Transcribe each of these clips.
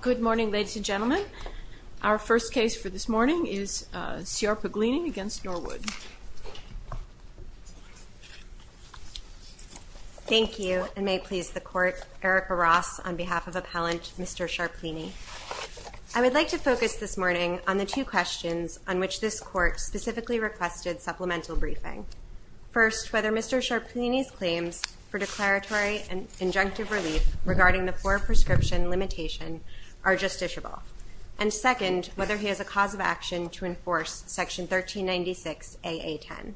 Good morning ladies and gentlemen. Our first case for this morning is Ciarpaglini against Norwood. Thank you, and may it please the court, Erica Ross on behalf of appellant Mr. Sharplini. I would like to focus this morning on the two questions on which this court specifically requested supplemental briefing. First, whether Mr. Sharplini's claims for declaratory and injunctive relief regarding the four prescription limitation are justiciable. And second, whether he has a cause of action to enforce section 1396 AA10.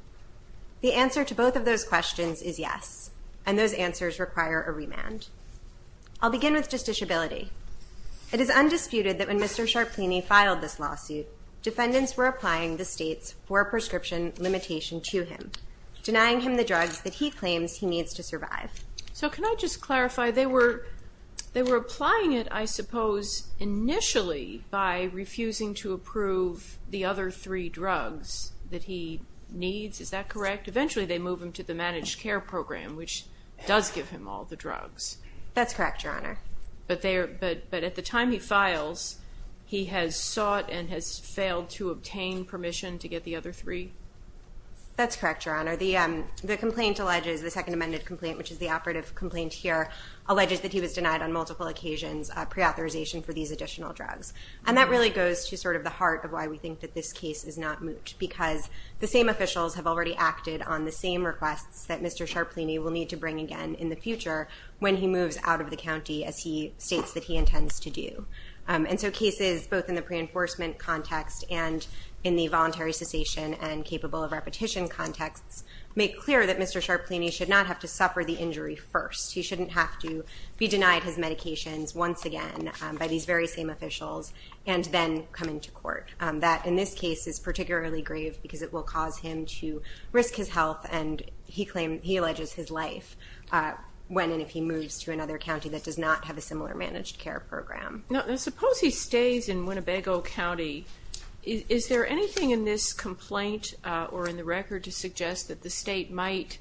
The answer to both of those questions is yes, and those answers require a remand. I'll begin with justiciability. It is undisputed that when Mr. Sharplini filed this lawsuit, defendants were applying the state's four prescription limitation to him, denying him the drugs that he claims he needs to survive. So can I just ask, they were applying it, I suppose, initially by refusing to approve the other three drugs that he needs, is that correct? Eventually they move him to the managed care program, which does give him all the drugs. That's correct, Your Honor. But at the time he files, he has sought and has failed to obtain permission to get the other three? That's correct, Your Honor. The complaint alleges, the second amended complaint, which is the operative complaint here, alleges that he was denied on multiple occasions pre-authorization for these additional drugs. And that really goes to sort of the heart of why we think that this case is not moot, because the same officials have already acted on the same requests that Mr. Sharplini will need to bring again in the future when he moves out of the county as he states that he intends to do. And so cases, both in the pre-enforcement context and in the voluntary cessation and capable of repetition contexts, make clear that Mr. Sharplini should not have to suffer the be denied his medications once again by these very same officials and then come into court. That, in this case, is particularly grave because it will cause him to risk his health and he alleges his life when and if he moves to another county that does not have a similar managed care program. Now suppose he stays in Winnebago County, is there anything in this complaint or in the record to suggest that the state might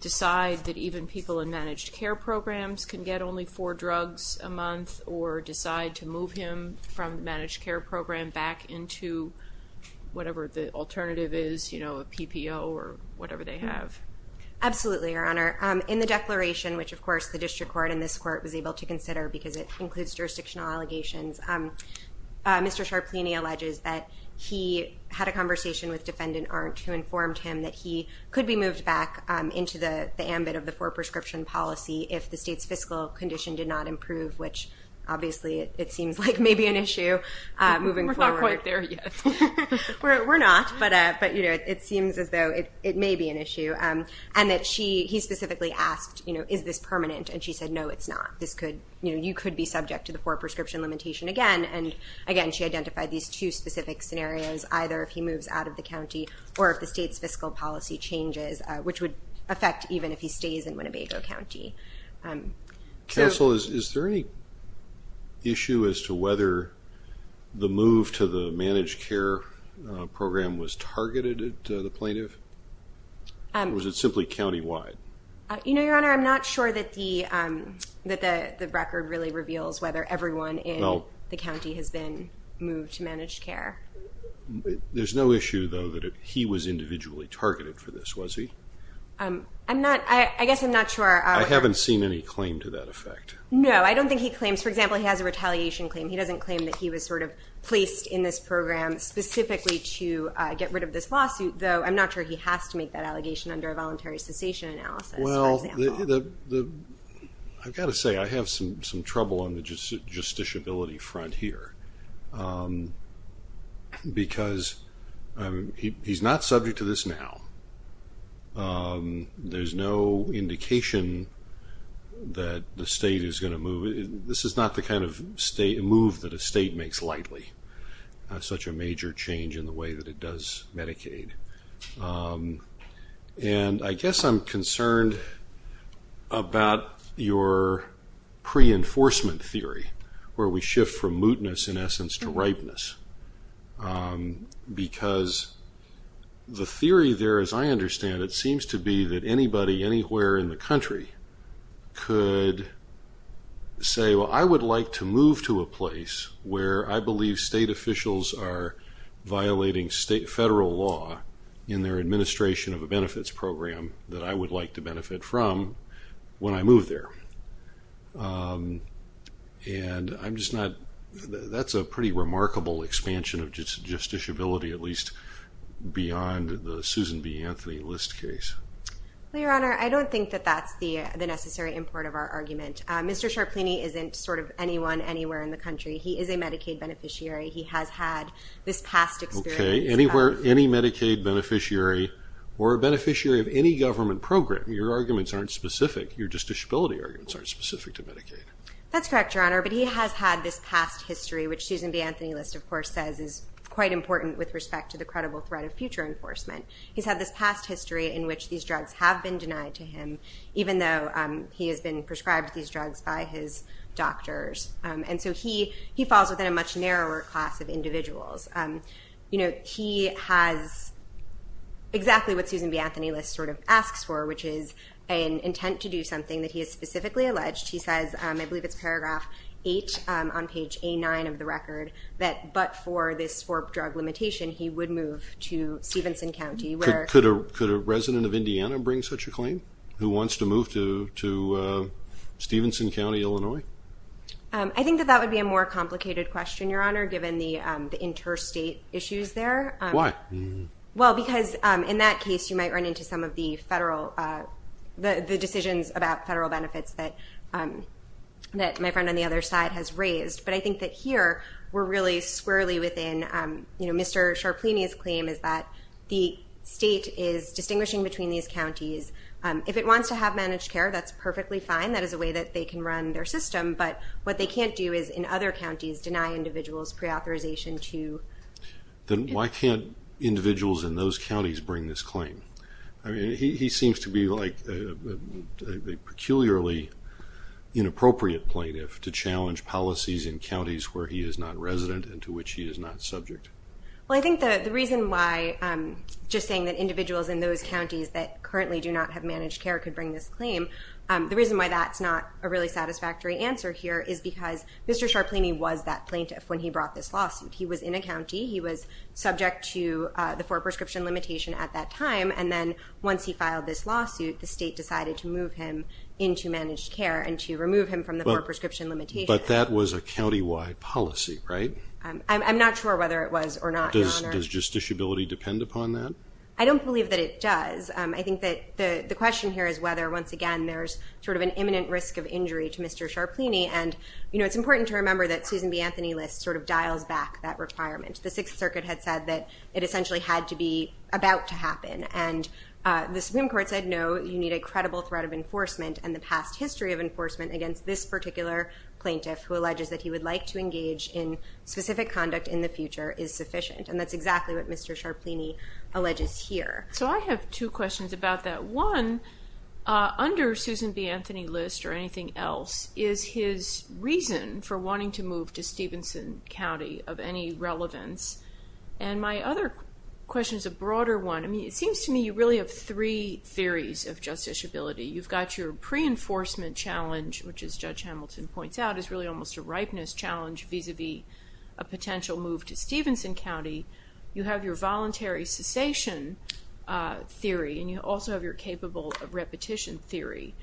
decide that even people in managed care programs can get only four drugs a month or decide to move him from managed care program back into whatever the alternative is, you know, a PPO or whatever they have? Absolutely, Your Honor. In the declaration, which of course the District Court and this court was able to consider because it includes jurisdictional allegations, Mr. Sharplini alleges that he had a conversation with Defendant Arndt who informed him that he could be moved back into the ambit of the four prescription policy if the state's fiscal condition did not improve, which obviously it seems like may be an issue moving forward. We're not quite there yet. We're not, but it seems as though it may be an issue and that he specifically asked, you know, is this permanent and she said no it's not. This could, you know, you could be subject to the four prescription limitation again and again she identified these two specific scenarios either if he moves out of the county or if the state's fiscal policy changes which would affect even if he stays in Winnebago County. Counsel, is there any issue as to whether the move to the managed care program was targeted at the plaintiff? Or was it simply countywide? You know, Your Honor, I'm not sure that the record really reveals whether everyone in the county has been moved to managed care. There's no issue though that he was individually targeted for this, was he? I'm not, I guess I'm not sure. I haven't seen any claim to that effect. No, I don't think he claims, for example, he has a retaliation claim. He doesn't claim that he was sort of placed in this program specifically to get rid of this lawsuit, though I'm not sure he has to make that allegation under a voluntary cessation analysis. Well, I've got to say I have some trouble on the justiciability front here because he's not subject to this now. There's no indication that the state is going to move. This is not the kind of move that a state makes lightly, such a major change in the way that it does Medicaid. And I guess I'm concerned about your pre-enforcement theory where we shift from mootness, in essence, to ripeness. Because the theory there, as I understand it, seems to be that anybody anywhere in the country could say, well, I would like to move to a place where I believe state officials are violating state federal law in their administration of a benefits program that I would like to benefit from when I move there. And I'm just not, that's a pretty remarkable expansion of justiciability, at least beyond the Susan B. Anthony List case. Well, Your Honor, I don't think that that's the necessary import of our argument. Mr. Sharplini isn't sort of anyone anywhere in the country. He is a Medicaid beneficiary. He has had this past experience. Okay. Anywhere, any Medicaid beneficiary or a beneficiary of any government program, your arguments aren't specific. Your justiciability arguments aren't specific to Medicaid. That's correct, Your Honor, but he has had this past history, which Susan B. Anthony List, of course, says is quite important with respect to the credible threat of future enforcement. He's had this past history in which these drugs have been denied to him, even though he has been prescribed these drugs by his doctors. And so he falls within a much narrower class of you know, he has exactly what Susan B. Anthony List sort of asks for, which is an intent to do something that he has specifically alleged. He says, I believe it's paragraph 8 on page A9 of the record, that but for this for drug limitation, he would move to Stevenson County. Could a resident of Indiana bring such a claim? Who wants to move to Stevenson County, Illinois? I think that that would be a more complicated question, Your Honor, given the interstate issues there. Why? Well, because in that case, you might run into some of the federal, the decisions about federal benefits that my friend on the other side has raised. But I think that here, we're really squarely within, you know, Mr. Sharplini's claim is that the state is distinguishing between these counties. If it wants to have managed care, that's perfectly fine. That is a way that they can run their system. But what they can't do is in other counties, deny individuals pre-authorization to... Then why can't individuals in those counties bring this claim? I mean, he seems to be like a peculiarly inappropriate plaintiff to challenge policies in counties where he is not resident and to which he is not subject. Well, I think the reason why, just saying that individuals in those counties that currently do not have managed care could bring this claim, the reason why that's not a really Mr. Sharplini was that plaintiff when he brought this lawsuit. He was in a county, he was subject to the four prescription limitation at that time, and then once he filed this lawsuit, the state decided to move him into managed care and to remove him from the four prescription limitation. But that was a countywide policy, right? I'm not sure whether it was or not. Does justiciability depend upon that? I don't believe that it does. I think that the question here is whether, once again, there's sort of an imminent risk of injury to Mr. Sharplini. And, you know, it's important to remember that Susan B. Anthony List sort of dials back that requirement. The Sixth Circuit had said that it essentially had to be about to happen. And the Supreme Court said, no, you need a credible threat of enforcement and the past history of enforcement against this particular plaintiff, who alleges that he would like to engage in specific conduct in the future, is sufficient. And that's exactly what Mr. Sharplini alleges here. So I have two questions about that. One, under Susan B. Anthony List or anything else, is his reason for wanting to move to Stevenson County of any relevance? And my other question is a broader one. I mean, it seems to me you really have three theories of justiciability. You've got your pre-enforcement challenge, which, as Judge Hamilton points out, is really almost a ripeness challenge vis-a-vis a potential move to Stevenson County. You have your voluntary cessation theory. And you also have your capable of repetition theory.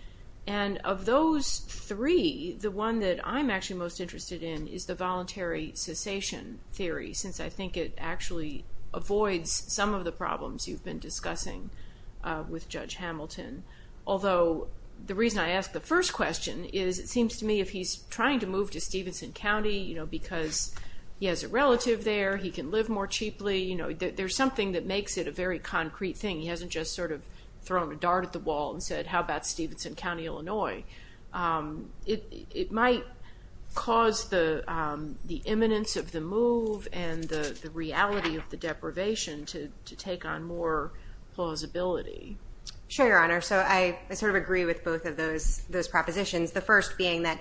And of those three, the one that I'm actually most interested in is the voluntary cessation theory, since I think it actually avoids some of the problems you've been discussing with Judge Hamilton. Although, the reason I ask the first question is, it seems to me if he's trying to move to Stevenson County, you know, because he has a relative there, he can live more cheaply, you know, there's something that makes it a very concrete thing. He hasn't just sort of thrown a dart at the wall and said, how about Stevenson County, Illinois? It might cause the the imminence of the move and the reality of the deprivation to take on more plausibility. Sure, Your Honor. So, I sort of agree with both of those those propositions. The first being that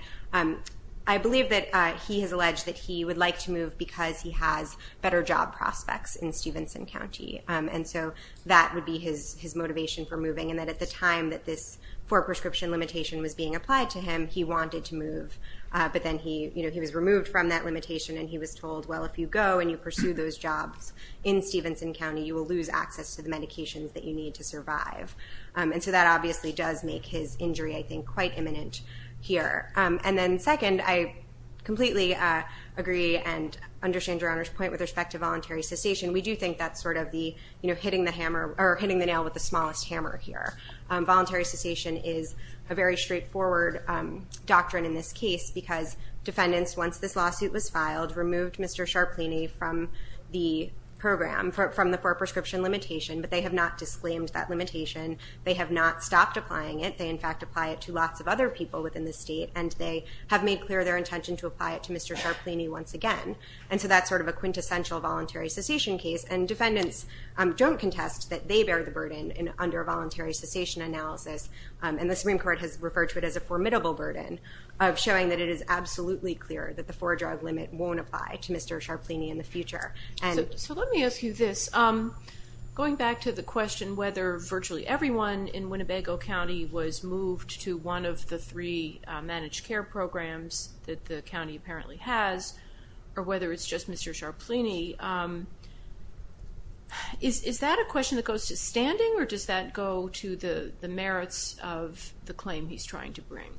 I believe that he has alleged that he would like to move because he has better job prospects in Stevenson County. And so, that would be his his motivation for moving. And that at the time that this for prescription limitation was being applied to him, he wanted to move. But then he, you know, he was removed from that limitation and he was told, well, if you go and you pursue those jobs in Stevenson County, you will lose access to the medications that you need to survive. And so, that obviously does make his injury, I think, quite imminent here. And then second, I completely agree and understand Your Honor's point with respect to voluntary cessation. We do think that's sort of the, you know, hitting the hammer or hitting the nail with the smallest hammer here. Voluntary cessation is a very straightforward doctrine in this case because defendants, once this lawsuit was filed, removed Mr. Sharpleney from the program, from the for prescription limitation. But they have not disclaimed that limitation. They have not stopped applying it. They, in fact, apply it to lots of other people within the state and they have made clear their intention to apply it to Mr. Sharpleney once again. And so, that's sort of a quintessential voluntary cessation case and defendants don't contest that they bear the burden in undervoluntary cessation analysis. And the Supreme Court has referred to it as a formidable burden of showing that it is absolutely clear that the for drug limit won't apply to Mr. Sharpleney in the future. So, let me ask you this. Going back to the question whether virtually everyone in Winnebago County was moved to one of the three managed care programs that the county apparently has or whether it's just Mr. Sharpleney, is that a question that goes to standing or does that go to the merits of the claim he's trying to bring?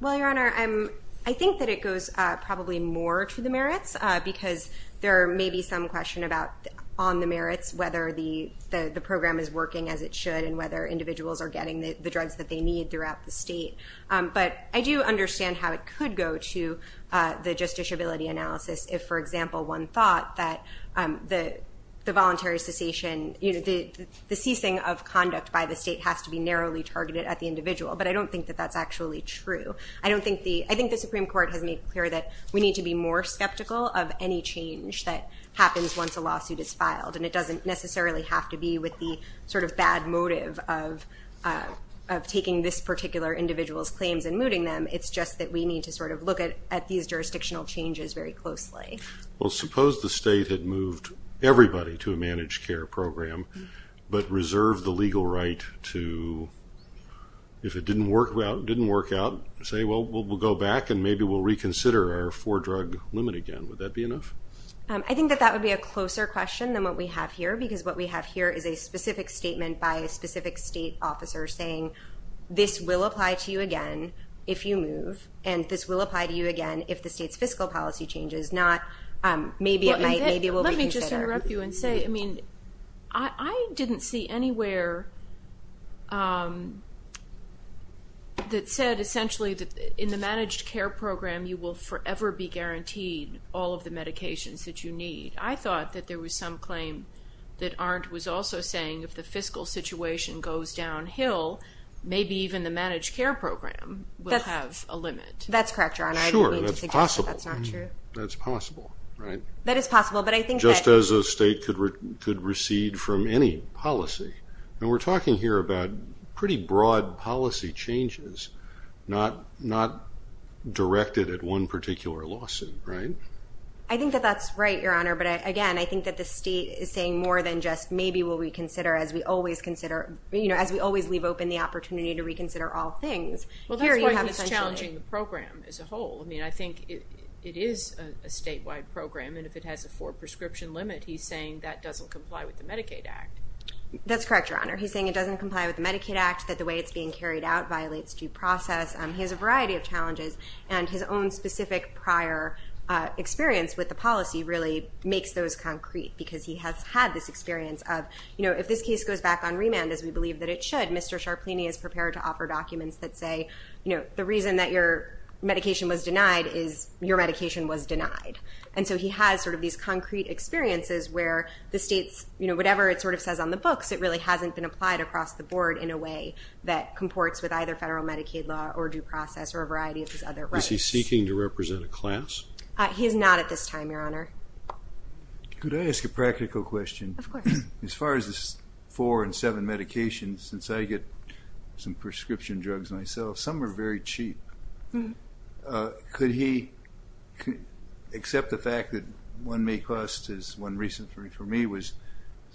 Well, Your Honor, I think that it goes probably more to the merits because there may be some question about on the merits whether the the program is working as it should and whether individuals are getting the drugs that they need throughout the state. But I do understand how it could go to the justiciability analysis if, for example, one thought that the voluntary cessation, you know, the ceasing of conduct by the state has to be narrowly targeted at the individual. But I don't think that that's actually true. I don't think the, I think the Supreme Court has made clear that we need to be more skeptical of any change that happens once a lawsuit is filed and it doesn't necessarily have to be with the sort of bad motive of taking this just that we need to sort of look at at these jurisdictional changes very closely. Well suppose the state had moved everybody to a managed care program but reserved the legal right to, if it didn't work out, didn't work out, say well we'll go back and maybe we'll reconsider our for drug limit again. Would that be enough? I think that that would be a closer question than what we have here because what we have here is a specific statement by a specific state officer saying this will apply to you again if you move and this will apply to you again if the state's fiscal policy changes, not maybe it might, maybe we'll reconsider. Let me just interrupt you and say, I mean, I didn't see anywhere that said essentially that in the managed care program you will forever be guaranteed all of the medications that you need. I thought that there was some claim that maybe even the managed care program will have a limit. That's correct, Your Honor. I don't mean to suggest that's not true. That's possible. That is possible, but I think just as a state could recede from any policy and we're talking here about pretty broad policy changes not directed at one particular lawsuit, right? I think that that's right, Your Honor, but again I think that the state is saying more than just maybe will we consider as we always consider, you know, as we always leave open the opportunity to reconsider all things. Well, that's why he's challenging the program as a whole. I mean, I think it is a statewide program and if it has a four prescription limit he's saying that doesn't comply with the Medicaid Act. That's correct, Your Honor. He's saying it doesn't comply with the Medicaid Act, that the way it's being carried out violates due process. He has a variety of challenges and his own specific prior experience with the policy really makes those concrete because he has had this experience of, you know, if this case goes back on remand as we believe that it should, Mr. Sharpleney is prepared to offer documents that say, you know, the reason that your medication was denied is your medication was denied. And so he has sort of these concrete experiences where the state's, you know, whatever it sort of says on the books, it really hasn't been applied across the board in a way that comports with either federal Medicaid law or due process or a variety of these other rights. Is he seeking to represent a class? He is not at this time, Your Honor. Could I ask a practical question? As far as this four and seven medications, since I get some prescription drugs myself, some are very cheap. Could he accept the fact that one may cost, as one recent for me was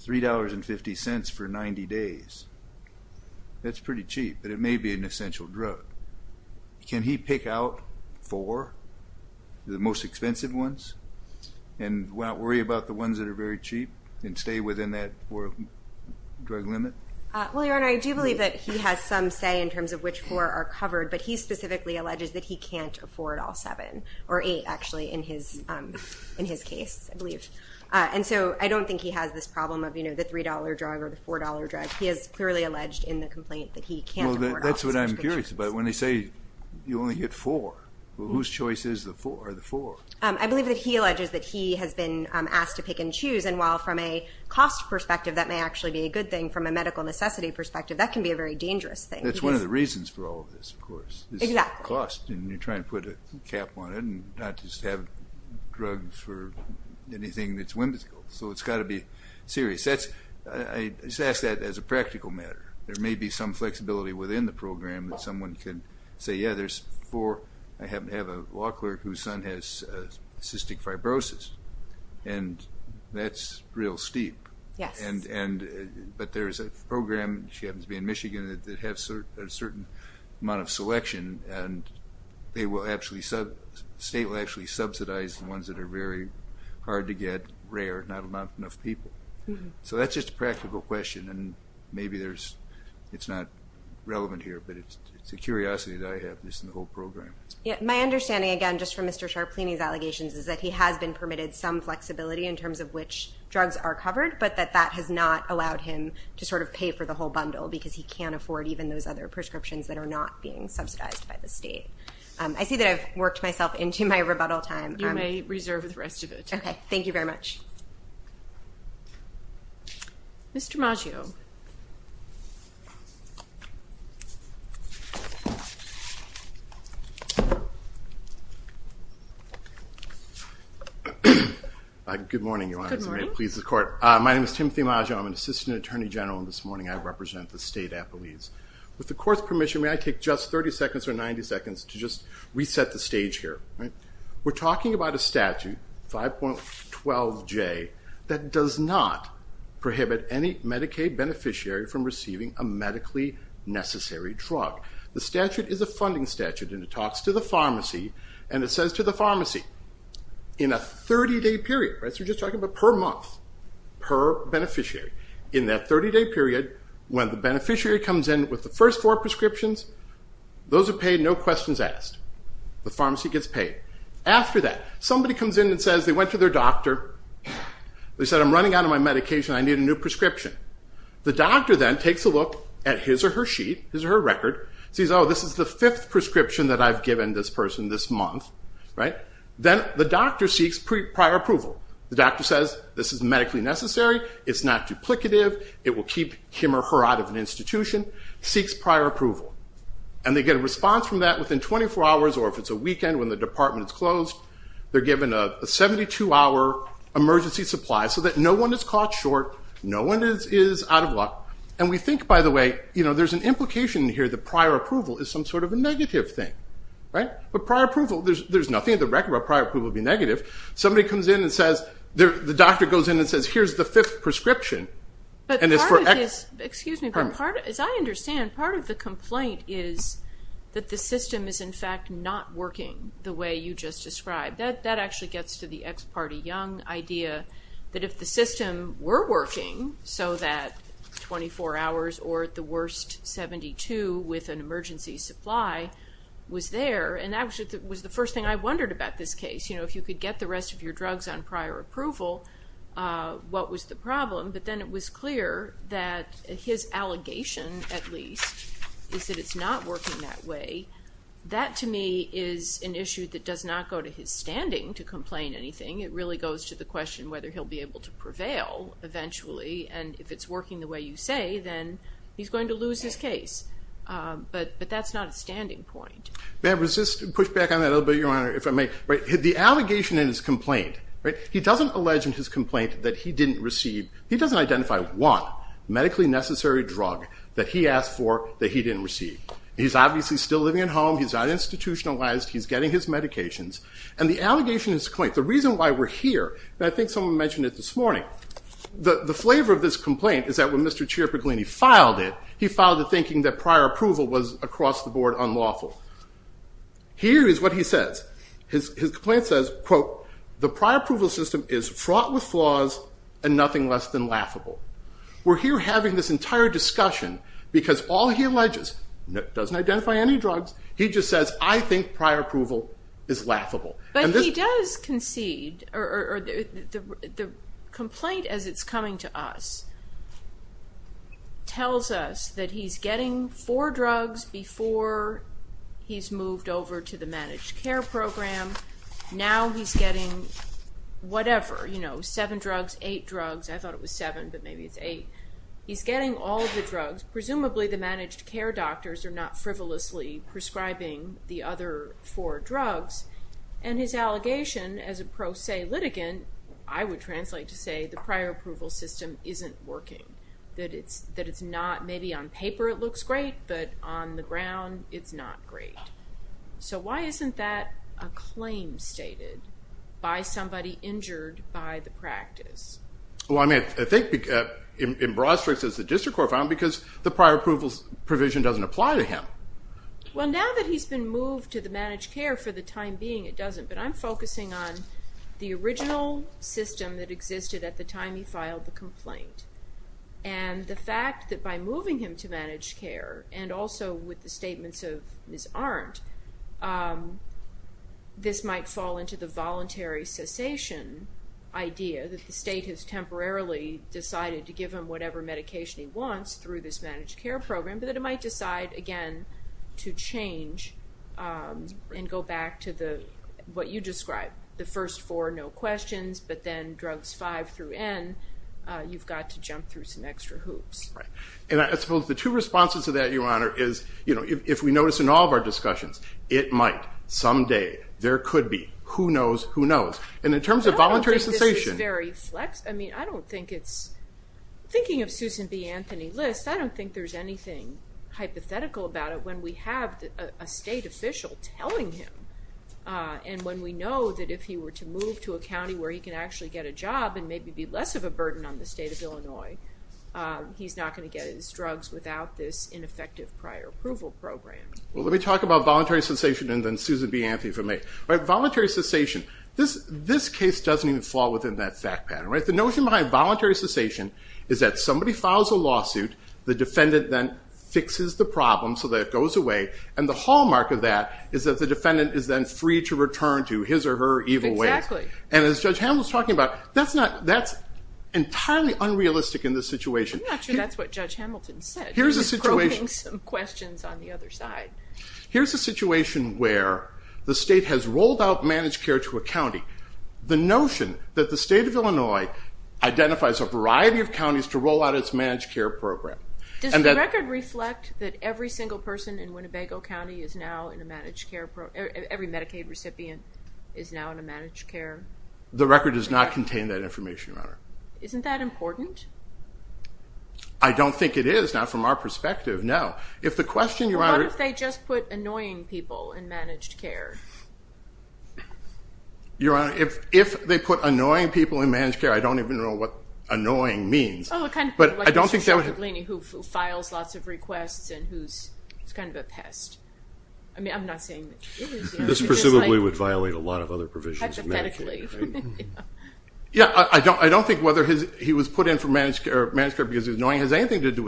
$3.50 for 90 days. That's pretty cheap, but it may be an essential drug. Can he pick out four, the most expensive ones, and not worry about the ones that are very cheap, and stay within that drug limit? Well, Your Honor, I do believe that he has some say in terms of which four are covered, but he specifically alleges that he can't afford all seven, or eight actually, in his case, I believe. And so I don't think he has this problem of, you know, the $3 drug or the $4 drug. He has clearly alleged in the complaint that he can't afford all seven. That's what I'm curious about, when they say you only get four. Whose choice are the four? I believe that he alleges that he has been asked to pick and choose, and while from a cost perspective that may actually be a good thing, from a medical necessity perspective that can be a very dangerous thing. That's one of the reasons for all of this, of course, is cost, and you're trying to put a cap on it, and not just have drugs for anything that's whimsical. So it's got to be serious. I just ask that as a practical matter. There may be some flexibility within the program that someone can say, yeah, there's four. I happen to have a law clerk whose son has cystic fibrosis, and that's real steep. But there's a program, she happens to be in Michigan, that has a certain amount of selection, and they will actually, the state will actually subsidize the ones that are very hard to get, rare, not enough people. So that's just a practical question, and maybe it's not relevant here, but it's a curiosity that I have this in the whole program. Yeah, my understanding again, just from Mr. Sharplini's allegations, is that he has been permitted some flexibility in terms of which drugs are covered, but that that has not allowed him to sort of pay for the whole bundle, because he can afford even those other prescriptions that are not being subsidized by the state. I see that I've worked myself into my rebuttal time. You may reserve the rest of it. Okay, thank you very much. Mr. Maggio. Good morning, Your Honor. Good morning. My name is Timothy Maggio. I'm an assistant attorney general, and this morning I represent the State Appellees. With the court's permission, may I take just 30 seconds or 90 seconds to just prohibit any Medicaid beneficiary from receiving a medically necessary drug? The statute is a funding statute, and it talks to the pharmacy, and it says to the pharmacy, in a 30-day period, right, so we're just talking about per month, per beneficiary, in that 30-day period, when the beneficiary comes in with the first four prescriptions, those are paid, no questions asked. The pharmacy gets paid. After that, somebody comes in and says, they went to their doctor, they said, I'm running out of my medication, I need a new prescription. The doctor then takes a look at his or her sheet, his or her record, sees, oh, this is the fifth prescription that I've given this person this month, right, then the doctor seeks prior approval. The doctor says, this is medically necessary, it's not duplicative, it will keep him or her out of an institution, seeks prior approval, and they get a response from that within 24 hours, or if it's a weekend when the apartment is closed, they're given a 72-hour emergency supply, so that no one is caught short, no one is out of luck, and we think, by the way, you know, there's an implication here that prior approval is some sort of a negative thing, right, but prior approval, there's nothing in the record about prior approval being negative. Somebody comes in and says, the doctor goes in and says, here's the fifth prescription, and it's for, excuse me, as I understand, part of the way you just described. That actually gets to the ex parte Young idea, that if the system were working so that 24 hours, or at the worst, 72 with an emergency supply was there, and that was the first thing I wondered about this case, you know, if you could get the rest of your drugs on prior approval, what was the problem? But then it was clear that his allegation, at least, is that it's not working that way. That, to me, is an issue that does not go to his standing to complain anything. It really goes to the question whether he'll be able to prevail eventually, and if it's working the way you say, then he's going to lose his case. But that's not a standing point. May I resist, push back on that a little bit, Your Honor, if I may? The allegation in his complaint, right, he doesn't allege in his complaint that he didn't receive, he doesn't identify one he's obviously still living at home, he's not institutionalized, he's getting his medications, and the allegation in his complaint, the reason why we're here, and I think someone mentioned it this morning, the flavor of this complaint is that when Mr. Ciarapiglini filed it, he filed it thinking that prior approval was across the board unlawful. Here is what he says. His complaint says, quote, the prior approval system is fraught with flaws and nothing less than laughable. We're here having this entire discussion because all he alleges, doesn't identify any drugs, he just says, I think prior approval is laughable. But he does concede, or the complaint as it's coming to us tells us that he's getting four drugs before he's moved over to the managed care program, now he's getting whatever, you know, seven drugs, eight drugs, I thought it was seven but maybe it's eight, he's getting all the drugs, presumably the managed care doctors are not frivolously prescribing the other four drugs, and his allegation as a pro se litigant, I would translate to say the prior approval system isn't working, that it's, that it's not, maybe on paper it looks great, but on the ground it's not great. So why isn't that a claim stated by somebody injured by the practice? Well I mean, I think in broad strokes it's the district court found because the prior approvals provision doesn't apply to him. Well now that he's been moved to the managed care for the time being it doesn't, but I'm focusing on the original system that existed at the time he filed the complaint, and the fact that by this might fall into the voluntary cessation idea that the state has temporarily decided to give him whatever medication he wants through this managed care program, but that it might decide again to change and go back to the, what you described, the first four no questions, but then drugs five through N you've got to jump through some extra hoops. Right, and I suppose the two responses to that your honor is, you know, if we notice in all of our discussions, it might, someday, there could be, who knows, who knows, and in terms of voluntary cessation. I don't think this is very flex, I mean I don't think it's, thinking of Susan B. Anthony List, I don't think there's anything hypothetical about it when we have a state official telling him, and when we know that if he were to move to a county where he can actually get a job and maybe be less of a burden on the ineffective prior approval program. Well let me talk about voluntary cessation and then Susan B. Anthony for me. Right, voluntary cessation, this case doesn't even fall within that fact pattern. Right, the notion behind voluntary cessation is that somebody files a lawsuit, the defendant then fixes the problem so that it goes away, and the hallmark of that is that the defendant is then free to return to his or her evil ways. Exactly. And as Judge Hamilton's talking about, that's not, that's entirely unrealistic in this situation. I'm not sure that's what Judge Hamilton said. He's probing some questions on the other side. Here's a situation where the state has rolled out managed care to a county. The notion that the state of Illinois identifies a variety of counties to roll out its managed care program. Does the record reflect that every single person in Winnebago County is now in a managed care, every Medicaid recipient is now in a managed care? The record does not contain that information, Your Honor. Isn't that important? I don't think it is, not from our perspective, no. If the question, Your Honor. What if they just put annoying people in managed care? Your Honor, if they put annoying people in managed care, I don't even know what annoying means. Oh, kind of like Mr. Ciciglini, who files lots of requests and who's, he's kind of a pest. I mean, I'm not saying that he is annoying. This presumably would violate a lot of other provisions of Medicaid. Hypothetically. Yeah, I don't think whether he was put in for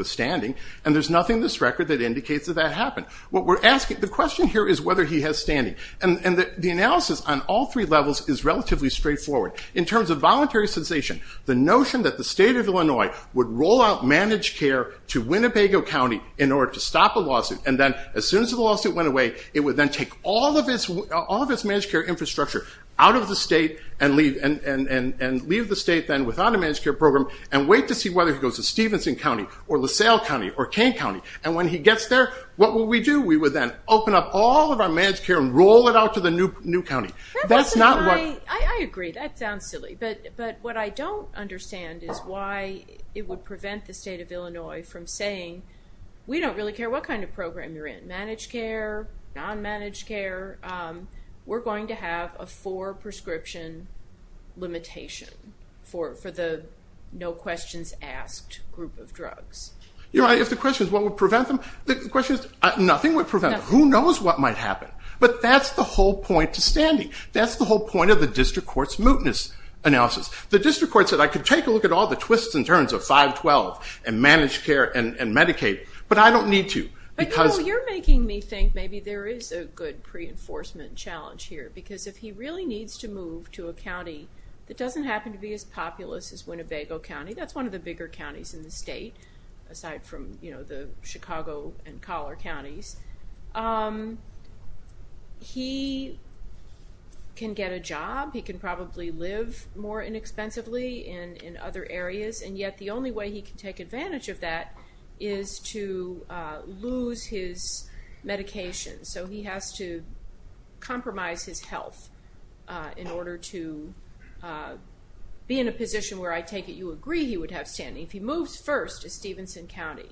standing, and there's nothing in this record that indicates that that happened. What we're asking, the question here is whether he has standing, and the analysis on all three levels is relatively straightforward. In terms of voluntary cessation, the notion that the state of Illinois would roll out managed care to Winnebago County in order to stop a lawsuit, and then as soon as the lawsuit went away, it would then take all of its managed care infrastructure out of the state and leave the state then without a managed care program and wait to see whether he goes to Stevenson County or LaSalle County or Kane County, and when he gets there, what will we do? We would then open up all of our managed care and roll it out to the new county. I agree, that sounds silly, but what I don't understand is why it would prevent the state of Illinois from saying, we don't really care what kind of program you're in. Managed care, non-managed care, we're going to have a prescription limitation for the no questions asked group of drugs. If the question is what would prevent them, the question is nothing would prevent them. Who knows what might happen, but that's the whole point to standing. That's the whole point of the district court's mootness analysis. The district court said I could take a look at all the twists and turns of 512 and managed care and Medicaid, but I don't need to. You're making me think maybe there is a good pre-enforcement challenge here, because if he really needs to move to a county that doesn't happen to be as populous as Winnebago County, that's one of the bigger counties in the state, aside from, you know, the Chicago and Collar counties, he can get a job, he can probably live more inexpensively in other areas, and yet the only way he can take advantage of that is to lose his medication, so he has to compromise his health in order to be in a position where I take it you agree he would have standing. If he moves first to Stevenson County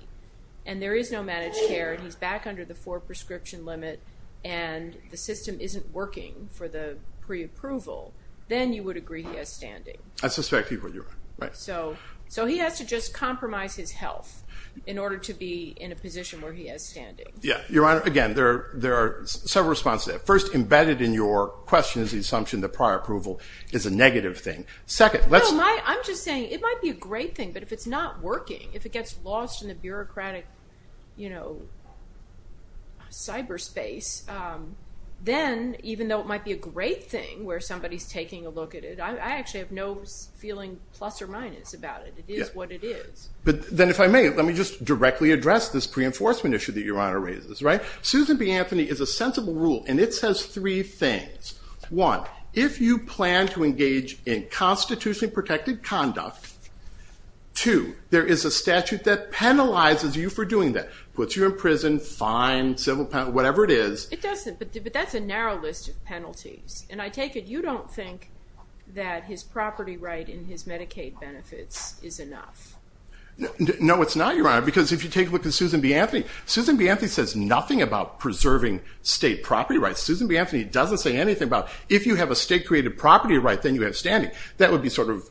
and there is no managed care and he's back under the four prescription limit and the system isn't working for the pre-approval, then you would agree he has standing. I suspect people do. So he has to just compromise his health in order to be in a position where he has standing. Yeah, Your Honor, again, there there are several responses. First, embedded in your question is the assumption that prior approval is a negative thing. Second, I'm just saying it might be a great thing, but if it's not working, if it gets lost in the bureaucratic, you know, cyberspace, then even though it might be a great thing where somebody's taking a look at it, I actually have no feeling plus or minus it is what it is. But then if I may, let me just directly address this pre-enforcement issue that Your Honor raises, right? Susan B. Anthony is a sensible rule and it says three things. One, if you plan to engage in constitutionally protected conduct, two, there is a statute that penalizes you for doing that. Puts you in prison, fine, civil penalty, whatever it is. It doesn't, but that's a narrow list of penalties and I take it you don't think that his Medicaid benefits is enough. No, it's not, Your Honor, because if you take a look at Susan B. Anthony, Susan B. Anthony says nothing about preserving state property rights. Susan B. Anthony doesn't say anything about if you have a state created property right, then you have standing. That would be sort of,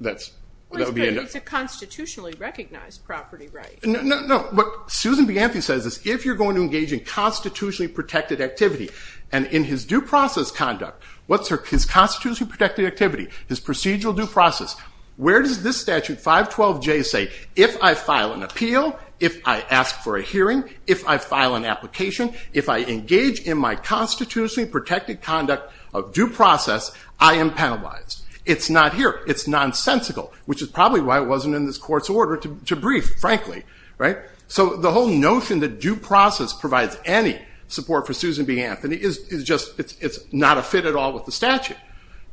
that's that would be a... It's a constitutionally recognized property right. No, no, no, but Susan B. Anthony says this, if you're going to engage in constitutionally protected activity and in his due process conduct, what's her, his procedural due process, where does this statute 512J say, if I file an appeal, if I ask for a hearing, if I file an application, if I engage in my constitutionally protected conduct of due process, I am penalized. It's not here. It's nonsensical, which is probably why it wasn't in this court's order to brief, frankly, right. So the whole notion that due process provides any support for Susan B. Anthony is just, it's not a fit at all with the statute.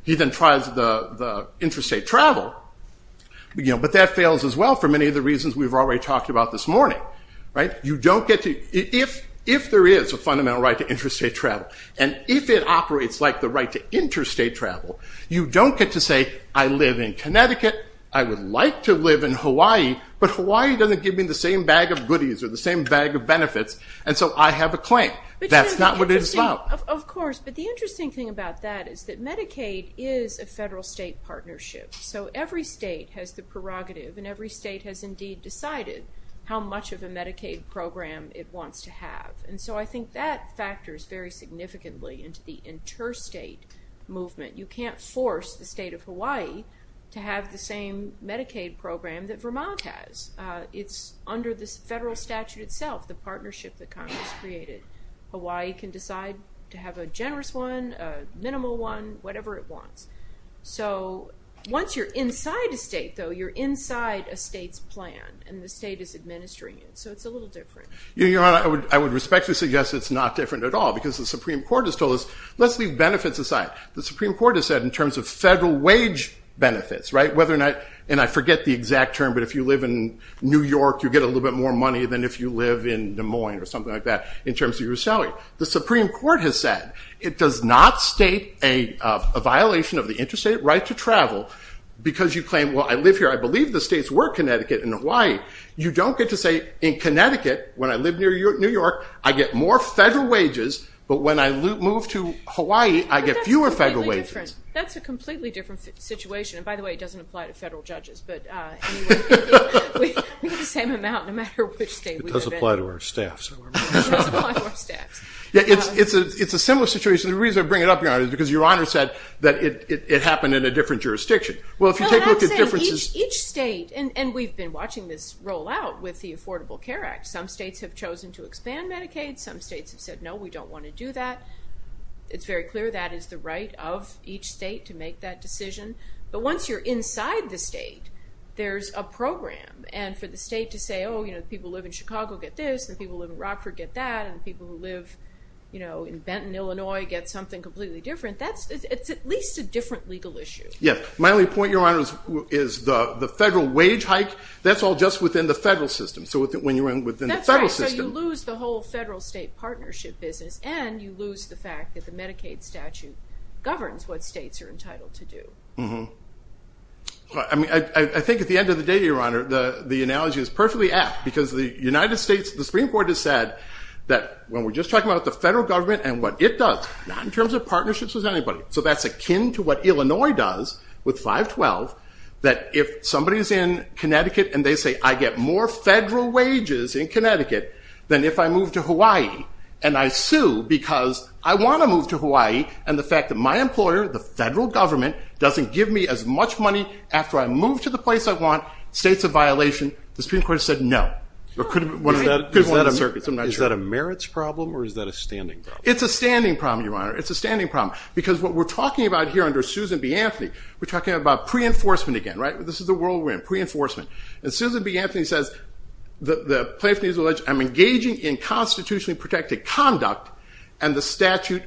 He then tries the interstate travel, but that fails as well for many of the reasons we've already talked about this morning. You don't get to, if there is a fundamental right to interstate travel and if it operates like the right to interstate travel, you don't get to say I live in Connecticut, I would like to live in Hawaii, but Hawaii doesn't give me the same bag of goodies or the same bag of benefits and so I have a claim. That's not what it is about. Of course, but the federal-state partnership, so every state has the prerogative and every state has indeed decided how much of a Medicaid program it wants to have and so I think that factors very significantly into the interstate movement. You can't force the state of Hawaii to have the same Medicaid program that Vermont has. It's under this federal statute itself, the partnership that Congress created. Hawaii can decide to have a generous one, a minimal one, whatever it wants. So once you're inside a state though, you're inside a state's plan and the state is administering it, so it's a little different. Your Honor, I would respectfully suggest it's not different at all because the Supreme Court has told us, let's leave benefits aside. The Supreme Court has said in terms of federal wage benefits, right, whether or not, and I forget the exact term, but if you live in New York you get a little bit more money than if you live in Des Moines or something like that in terms of your salary. The Supreme Court has said it does not state a violation of the interstate right to travel because you claim, well I live here, I believe the states were Connecticut and Hawaii. You don't get to say in Connecticut, when I live near New York, I get more federal wages, but when I move to Hawaii I get fewer federal wages. That's a completely different situation and by the way it doesn't apply to federal judges, but we get the same amount no matter which state we live in. It doesn't apply to our staff. Yeah, it's a similar situation. The reason I bring it up, Your Honor, is because Your Honor said that it happened in a different jurisdiction. Well if you take a look at differences... Well I'm saying each state, and we've been watching this roll out with the Affordable Care Act, some states have chosen to expand Medicaid, some states have said no we don't want to do that. It's very clear that is the right of each state to make that decision, but once you're inside the state there's a program and for the people who live in Rockford get this, the people who live in Rockford get that, and the people who live, you know, in Benton, Illinois get something completely different. That's, it's at least a different legal issue. Yeah, my only point, Your Honor, is the the federal wage hike, that's all just within the federal system. So when you're in within the federal system... That's right, so you lose the whole federal state partnership business and you lose the fact that the Medicaid statute governs what states are entitled to do. Mm-hmm. I mean, I think at the end of the day, Your Honor, the Supreme Court has said that when we're just talking about the federal government and what it does, not in terms of partnerships with anybody, so that's akin to what Illinois does with 512, that if somebody's in Connecticut and they say, I get more federal wages in Connecticut than if I move to Hawaii, and I sue because I want to move to Hawaii, and the fact that my employer, the federal government, doesn't give me as much money after I move to the place I was in, that's a violation. The Supreme Court has said no. Is that a merits problem or is that a standing problem? It's a standing problem, Your Honor, it's a standing problem, because what we're talking about here under Susan B. Anthony, we're talking about pre-enforcement again, right? This is the world we're in, pre-enforcement. And Susan B. Anthony says the plaintiff needs to know that I'm engaging in constitutionally protected conduct and the statute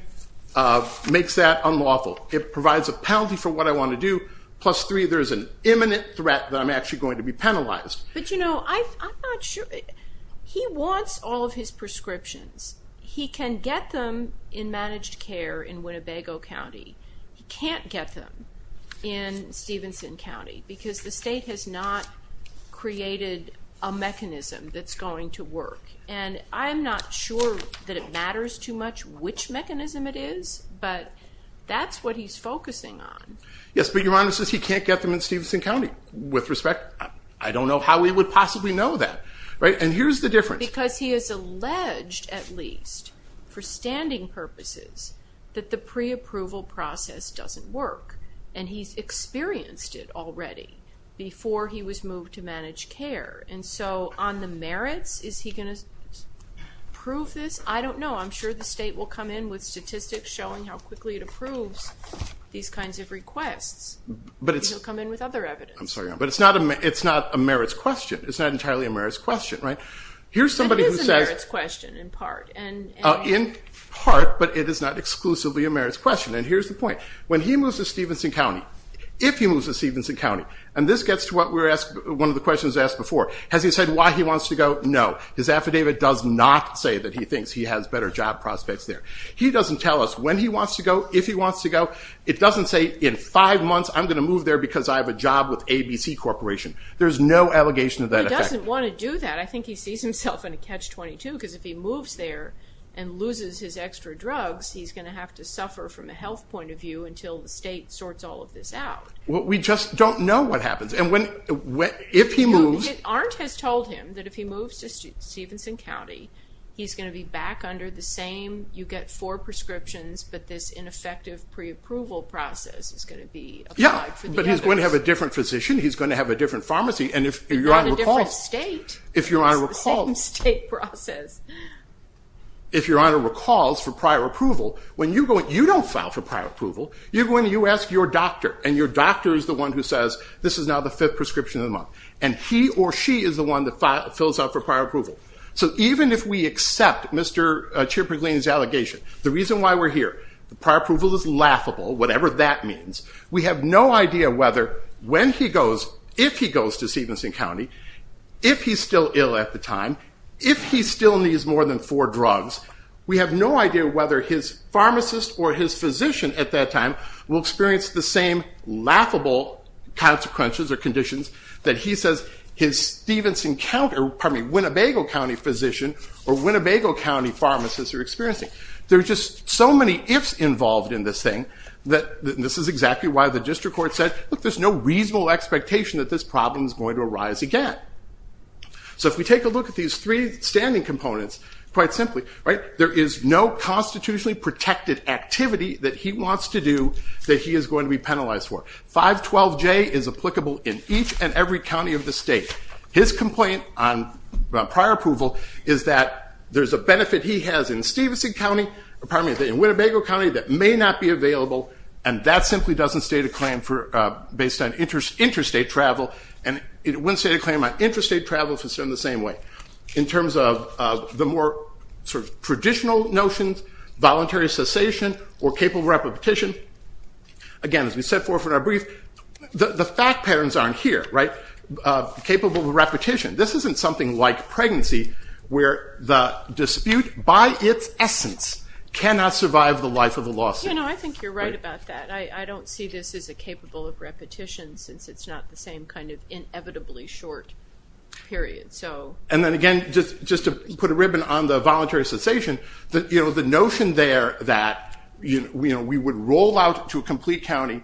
makes that unlawful. It provides a penalty for what I want to do Plus three, there's an imminent threat that I'm actually going to be penalized. But you know, I'm not sure, he wants all of his prescriptions. He can get them in managed care in Winnebago County. He can't get them in Stevenson County, because the state has not created a mechanism that's going to work. And I'm not sure that it matters too much which mechanism it is, but that's what he's focusing on. Yes, but Your Honor, he says he can't get them in Stevenson County. With respect, I don't know how he would possibly know that, right? And here's the difference. Because he has alleged, at least, for standing purposes, that the pre-approval process doesn't work. And he's experienced it already before he was moved to managed care. And so, on the merits, is he going to prove this? I don't know. I'm sure the state will come in with statistics showing how quickly it approves these kinds of requirements. He'll come in with other evidence. I'm sorry, Your Honor. But it's not a merits question. It's not entirely a merits question, right? It is a merits question in part. In part, but it is not exclusively a merits question. And here's the point. When he moves to Stevenson County, if he moves to Stevenson County, and this gets to one of the questions asked before, has he said why he wants to go? No. His affidavit does not say that he thinks he has better job prospects there. He doesn't tell us when he wants to go, if he wants to go. It doesn't say, in five months, I'm going to move there because I have a job with ABC Corporation. There's no allegation of that effect. He doesn't want to do that. I think he sees himself in a catch-22, because if he moves there and loses his extra drugs, he's going to have to suffer from a health point of view until the state sorts all of this out. We just don't know what happens. And if he moves— Arndt has told him that if he moves to Stevenson County, he's going to be back under the same—you get four prescriptions, but this ineffective pre-approval process is going to be applied for the others. Yeah, but he's going to have a different physician. He's going to have a different pharmacy. And if Your Honor recalls— But not a different state. If Your Honor recalls— It's the same state process. If Your Honor recalls for prior approval, you don't file for prior approval. You ask your doctor, and your doctor is the one who says, this is now the fifth prescription of the month. And he or she is the one that fills out for prior approval. So even if we accept Mr. Chirpiglien's allegation, the reason why we're here, the prior approval is laughable, whatever that means. We have no idea whether, when he goes, if he goes to Stevenson County, if he's still ill at the time, if he still needs more than four drugs, we have no idea whether his pharmacist or his physician at that time will experience the same laughable consequences or conditions that he says his Stevenson County— or Winnebago County—physician or Winnebago County pharmacist are experiencing. There are just so many ifs involved in this thing. This is exactly why the district court said, look, there's no reasonable expectation that this problem is going to arise again. So if we take a look at these three standing components, quite simply, there is no constitutionally protected activity that he wants to do that he is going to be penalized for. 512J is applicable in each and every county of the state. His complaint on prior approval is that there's a benefit he has in Stevenson County, pardon me, in Winnebago County that may not be available, and that simply doesn't state a claim based on interstate travel. And it wouldn't state a claim on interstate travel if it's done the same way. In terms of the more traditional notions, voluntary cessation or capable repetition, again, as we set forth in our brief, the fact patterns aren't here. Capable repetition, this isn't something like pregnancy where the dispute, by its essence, cannot survive the life of a lawsuit. You know, I think you're right about that. I don't see this as a capable of repetition since it's not the same kind of inevitably short period. And then again, just to put a ribbon on the voluntary cessation, the notion there that we would roll out to a complete county,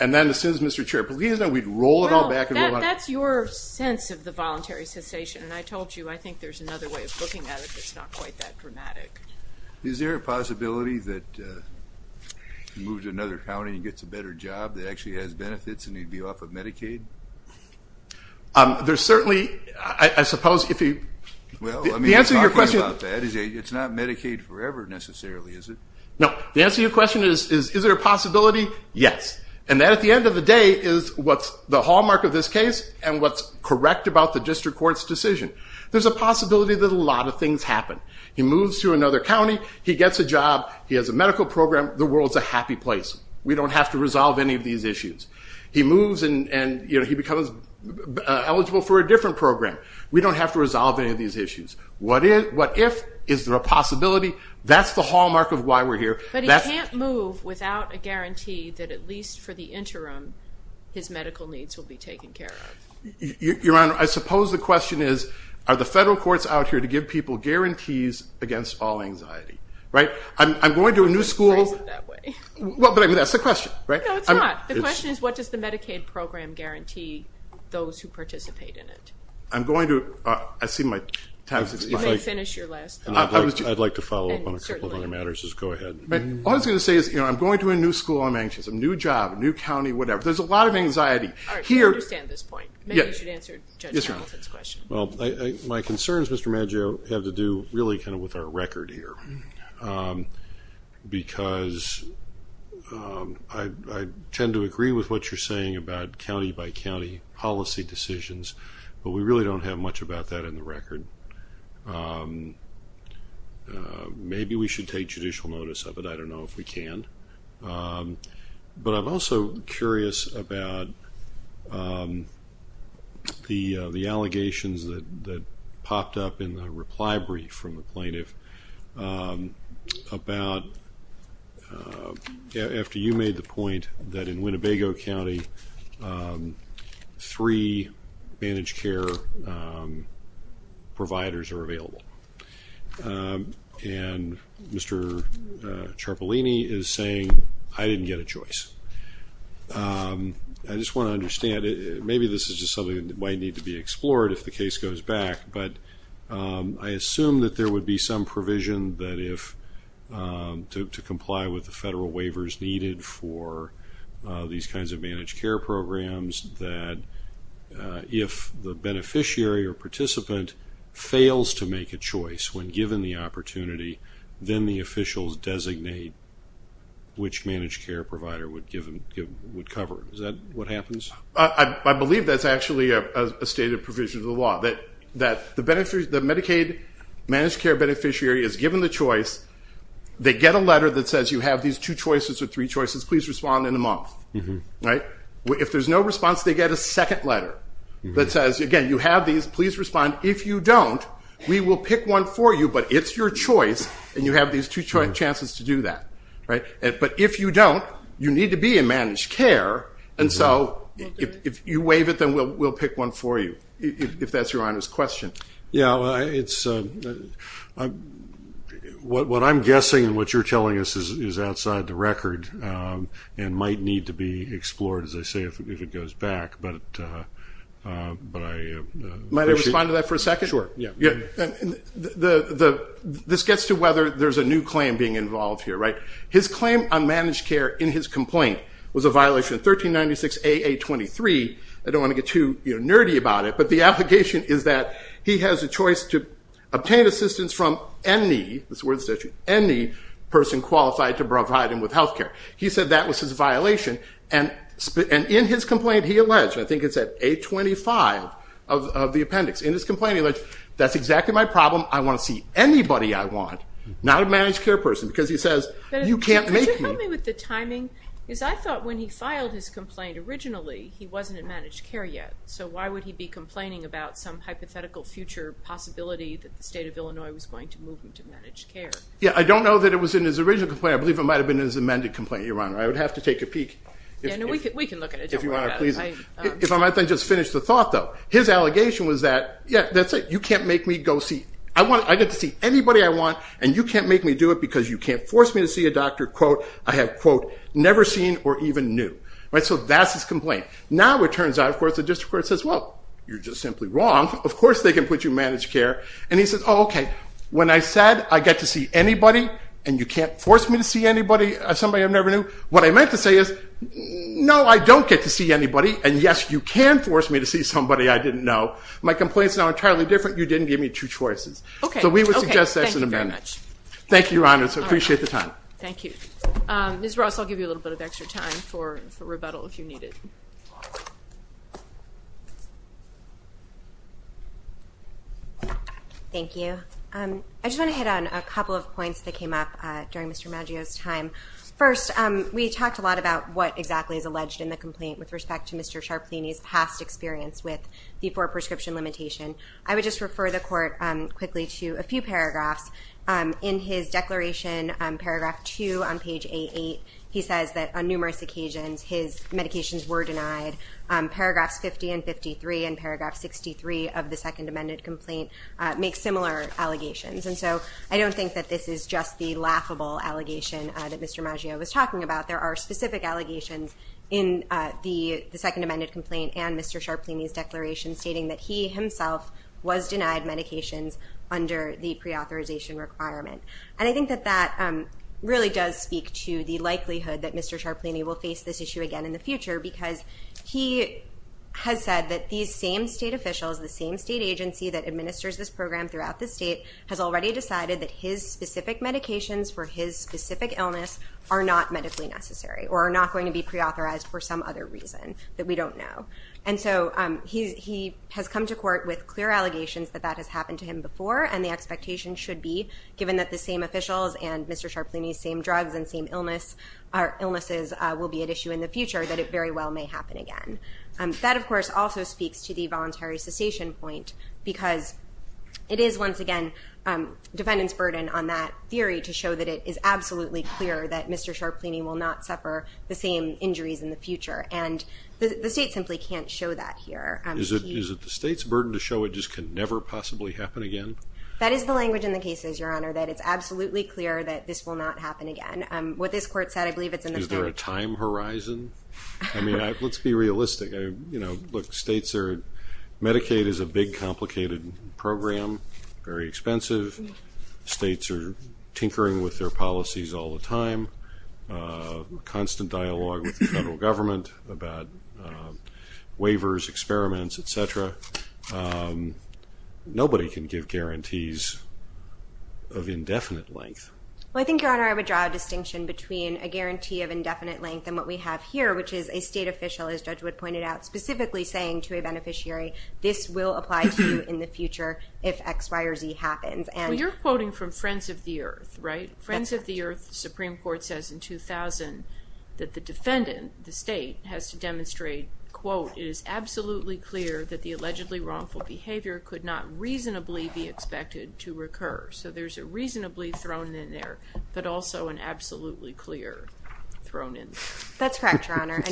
and then as soon as Mr. Chair believes that, we'd roll it all back. Well, that's your sense of the voluntary cessation. And I told you, I think there's another way of looking at it that's not quite that dramatic. Is there a possibility that he moves to another county and gets a better job that actually has benefits and he'd be off of Medicaid? There's certainly, I suppose, if you... Well, I mean, you're talking about that. It's not Medicaid forever, necessarily, is it? No, the answer to your question is, is there a possibility? Yes. And that, at the end of the day, is what's the hallmark of this case and what's correct about the district court's decision. There's a possibility that a lot of things happen. He moves to another county, he gets a job, he has a medical program, the world's a happy place. We don't have to resolve any of these issues. He moves and he becomes eligible for a different program. We don't have to resolve any of these issues. What if? Is there a possibility? That's the hallmark of why we're here. But he can't move without a guarantee that, at least for the interim, his medical needs will be taken care of. Your Honor, I suppose the question is, are the federal courts out here to give people guarantees against all anxiety? I'm going to a new school... Why is it that way? But that's the question, right? No, it's not. The question is, what does the Medicaid program guarantee those who participate in it? I'm going to... I see my time is expiring. You may finish your last thought. I'd like to follow up on a couple of other matters. Just go ahead. All I was going to say is I'm going to a new school, I'm anxious. A new job, a new county, whatever. There's a lot of anxiety. All right, I understand this point. Maybe you should answer Judge Hamilton's question. Well, my concerns, Mr. Maggio, have to do really kind of with our record here. Because I tend to agree with what you're saying about county-by-county policy decisions, but we really don't have much about that in the record. Maybe we should take judicial notice of it. I don't know if we can. But I'm also curious about the allegations that popped up in the reply brief from the plaintiff, about after you made the point that in Winnebago County, three managed care providers are available. And Mr. Ciarpolini is saying, I didn't get a choice. I just want to understand, maybe this is just something that might need to be explored if the case goes back, but I assume that there would be some provision to comply with the federal waivers needed for these kinds of managed care programs, that if the beneficiary or participant fails to make a choice when given the opportunity, then the officials designate which managed care provider would cover. Is that what happens? I believe that's actually a stated provision of the law, that the Medicaid managed care beneficiary is given the choice. They get a letter that says you have these two choices or three choices. Please respond in a month. If there's no response, they get a second letter that says, again, you have these. Please respond. If you don't, we will pick one for you, but it's your choice, and you have these two chances to do that. But if you don't, you need to be in managed care. And so if you waive it, then we'll pick one for you, if that's Your Honor's question. What I'm guessing and what you're telling us is outside the record and might need to be explored, as I say, if it goes back. But I appreciate it. Might I respond to that for a second? Sure. This gets to whether there's a new claim being involved here, right? His claim on managed care in his complaint was a violation of 1396 AA23. I don't want to get too nerdy about it, but the allegation is that he has a choice to obtain assistance from any, that's the word in the statute, any person qualified to provide him with health care. He said that was his violation. And in his complaint, he alleged, and I think it's at 825 of the appendix. In his complaint, he alleged, that's exactly my problem. I want to see anybody I want, not a managed care person, because he says you can't make me. Could you help me with the timing? Because I thought when he filed his complaint originally, he wasn't in managed care yet. So why would he be complaining about some hypothetical future possibility that the state of Illinois was going to move him to managed care? Yeah, I don't know that it was in his original complaint. I believe it might have been in his amended complaint, Your Honor. I would have to take a peek. Yeah, no, we can look at it. If you want to, please. If I might just finish the thought, though. His allegation was that, yeah, that's it. I get to see anybody I want, and you can't make me do it because you can't force me to see a doctor, quote, I have, quote, never seen or even knew. So that's his complaint. Now it turns out, of course, the district court says, well, you're just simply wrong. Of course they can put you in managed care. And he says, oh, okay. When I said I get to see anybody and you can't force me to see anybody, somebody I never knew, what I meant to say is, no, I don't get to see anybody. And yes, you can force me to see somebody I didn't know. My complaint is now entirely different. You didn't give me two choices. Okay. So we would suggest that's an amendment. Thank you very much. Thank you, Your Honor. So I appreciate the time. Thank you. Ms. Ross, I'll give you a little bit of extra time for rebuttal if you need it. Thank you. I just want to hit on a couple of points that came up during Mr. Maggio's time. First, we talked a lot about what exactly is alleged in the complaint with respect to Mr. Sharpleney's past experience with V-4 prescription limitation. I would just refer the court quickly to a few paragraphs. In his declaration, paragraph two on page A-8, he says that on numerous occasions his medications were denied. Paragraphs 50 and 53 and paragraph 63 of the second amended complaint make similar allegations. And so I don't think that this is just the laughable allegation that Mr. Maggio was talking about. There are specific allegations in the second amended complaint and Mr. Sharpleney's declaration stating that he himself was denied medications under the preauthorization requirement. And I think that that really does speak to the likelihood that Mr. Sharpleney will face this issue again in the future because he has said that these same state officials, the same state agency that administers this program throughout the state, has already decided that his specific medications for his specific illness are not medically necessary or are not going to be preauthorized for some other reason that we don't know. And so he has come to court with clear allegations that that has happened to him before and the expectation should be, given that the same officials and Mr. Sharpleney's same drugs and same illnesses will be at issue in the future, that it very well may happen again. That, of course, also speaks to the voluntary cessation point because it is, once again, defendant's burden on that theory to show that it is absolutely clear that Mr. Sharpleney will not suffer the same injuries in the future. And the state simply can't show that here. Is it the state's burden to show it just can never possibly happen again? That is the language in the cases, Your Honor, that it's absolutely clear that this will not happen again. What this court said, I believe it's in the court. Is there a time horizon? I mean, let's be realistic. You know, look, states are – Medicaid is a big, complicated program, very expensive. States are tinkering with their policies all the time, constant dialogue with the federal government about waivers, experiments, et cetera. Nobody can give guarantees of indefinite length. Well, I think, Your Honor, I would draw a distinction between a guarantee of indefinite length and what we have here, which is a state official, as Judge Wood pointed out, specifically saying to a beneficiary, this will apply to you in the future if X, Y, or Z happens. Well, you're quoting from Friends of the Earth, right? Friends of the Earth, the Supreme Court says in 2000 that the defendant, the state, has to demonstrate, quote, it is absolutely clear that the allegedly wrongful behavior could not reasonably be expected to recur. So there's a reasonably thrown in there, but also an absolutely clear thrown in there. That's correct, Your Honor.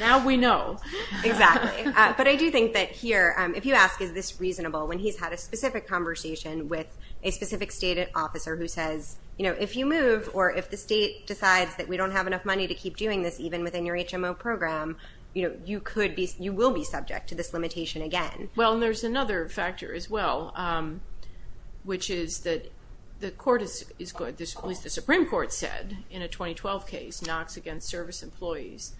Now we know. Exactly. But I do think that here, if you ask is this reasonable, when he's had a specific conversation with a specific state officer who says, you know, if you move or if the state decides that we don't have enough money to keep doing this, even within your HMO program, you know, you could be – you will be subject to this limitation again. Well, and there's another factor as well, which is that the Supreme Court said in a 2012 case, Knox against service employees,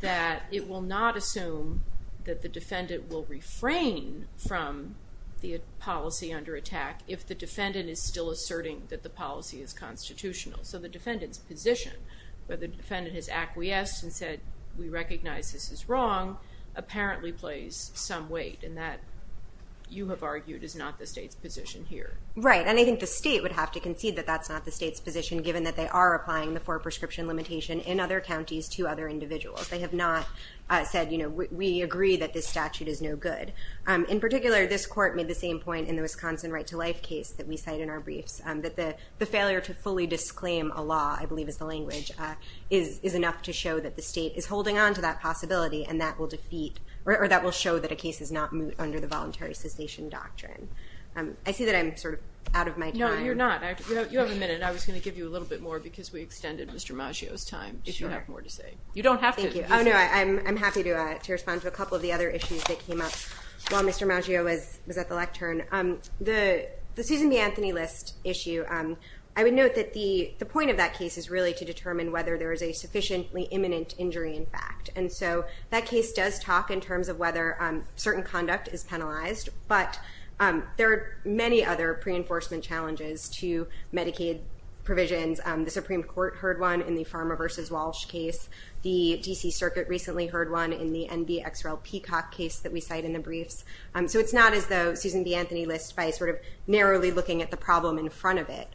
that it will not assume that the defendant will refrain from the policy under attack if the defendant is still asserting that the policy is constitutional. So the defendant's position, whether the defendant has acquiesced and said we recognize this is wrong, apparently plays some weight in that you have argued is not the state's position here. Right, and I think the state would have to concede that that's not the state's position given that they are applying the four-prescription limitation in other counties to other individuals. They have not said, you know, we agree that this statute is no good. In particular, this court made the same point in the Wisconsin right-to-life case that we cite in our briefs, that the failure to fully disclaim a law, I believe is the language, is enough to show that the state is holding on to that possibility and that will defeat or that will show that a case is not moot under the voluntary cessation doctrine. I see that I'm sort of out of my time. No, you're not. You have a minute. I was going to give you a little bit more because we extended Mr. Maggio's time. Sure. If you have more to say. You don't have to. Thank you. Oh, no, I'm happy to respond to a couple of the other issues that came up while Mr. Maggio was at the lectern. The Susan B. Anthony List issue, I would note that the point of that case is really to determine whether there is a sufficiently imminent injury in fact. And so that case does talk in terms of whether certain conduct is penalized, but there are many other pre-enforcement challenges to Medicaid provisions. The Supreme Court heard one in the Pharma v. Walsh case. The D.C. Circuit recently heard one in the NVXL Peacock case that we cite in the briefs. So it's not as though Susan B. Anthony List, by sort of narrowly looking at the problem in front of it,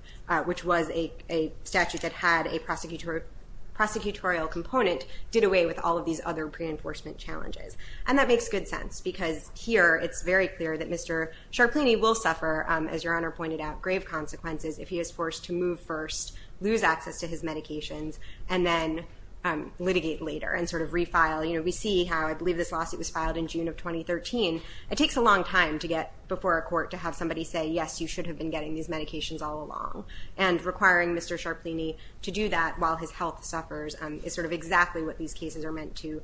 which was a statute that had a prosecutorial component, did away with all of these other pre-enforcement challenges. And that makes good sense because here it's very clear that Mr. Sharplini will suffer, as Your Honor pointed out, grave consequences if he is forced to move first, lose access to his medications, and then litigate later and sort of refile. You know, we see how I believe this lawsuit was filed in June of 2013. It takes a long time to get before a court to have somebody say, yes, you should have been getting these medications all along. And requiring Mr. Sharplini to do that while his health suffers is sort of exactly what these cases are meant to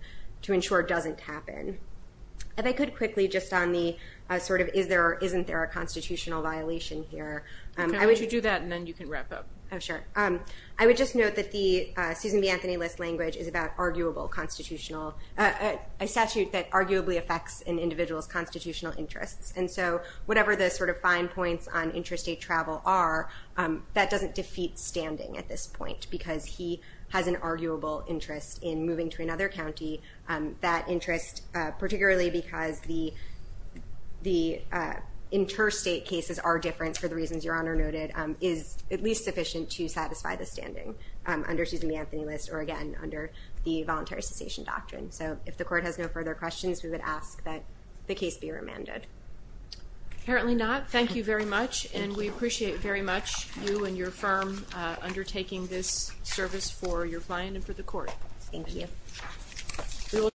ensure doesn't happen. If I could quickly just on the sort of is there or isn't there a constitutional violation here. Why don't you do that and then you can wrap up. Oh, sure. I would just note that the Susan B. Anthony List language is about arguable constitutional, a statute that arguably affects an individual's constitutional interests. And so whatever the sort of fine points on interstate travel are, that doesn't defeat standing at this point because he has an arguable interest in moving to another county. That interest, particularly because the interstate cases are different for the reasons Your Honor noted, is at least sufficient to satisfy the standing under Susan B. Anthony List or, again, under the voluntary cessation doctrine. So if the court has no further questions, we would ask that the case be remanded. Apparently not. Thank you very much. And we appreciate very much you and your firm undertaking this service for your client and for the court. Thank you.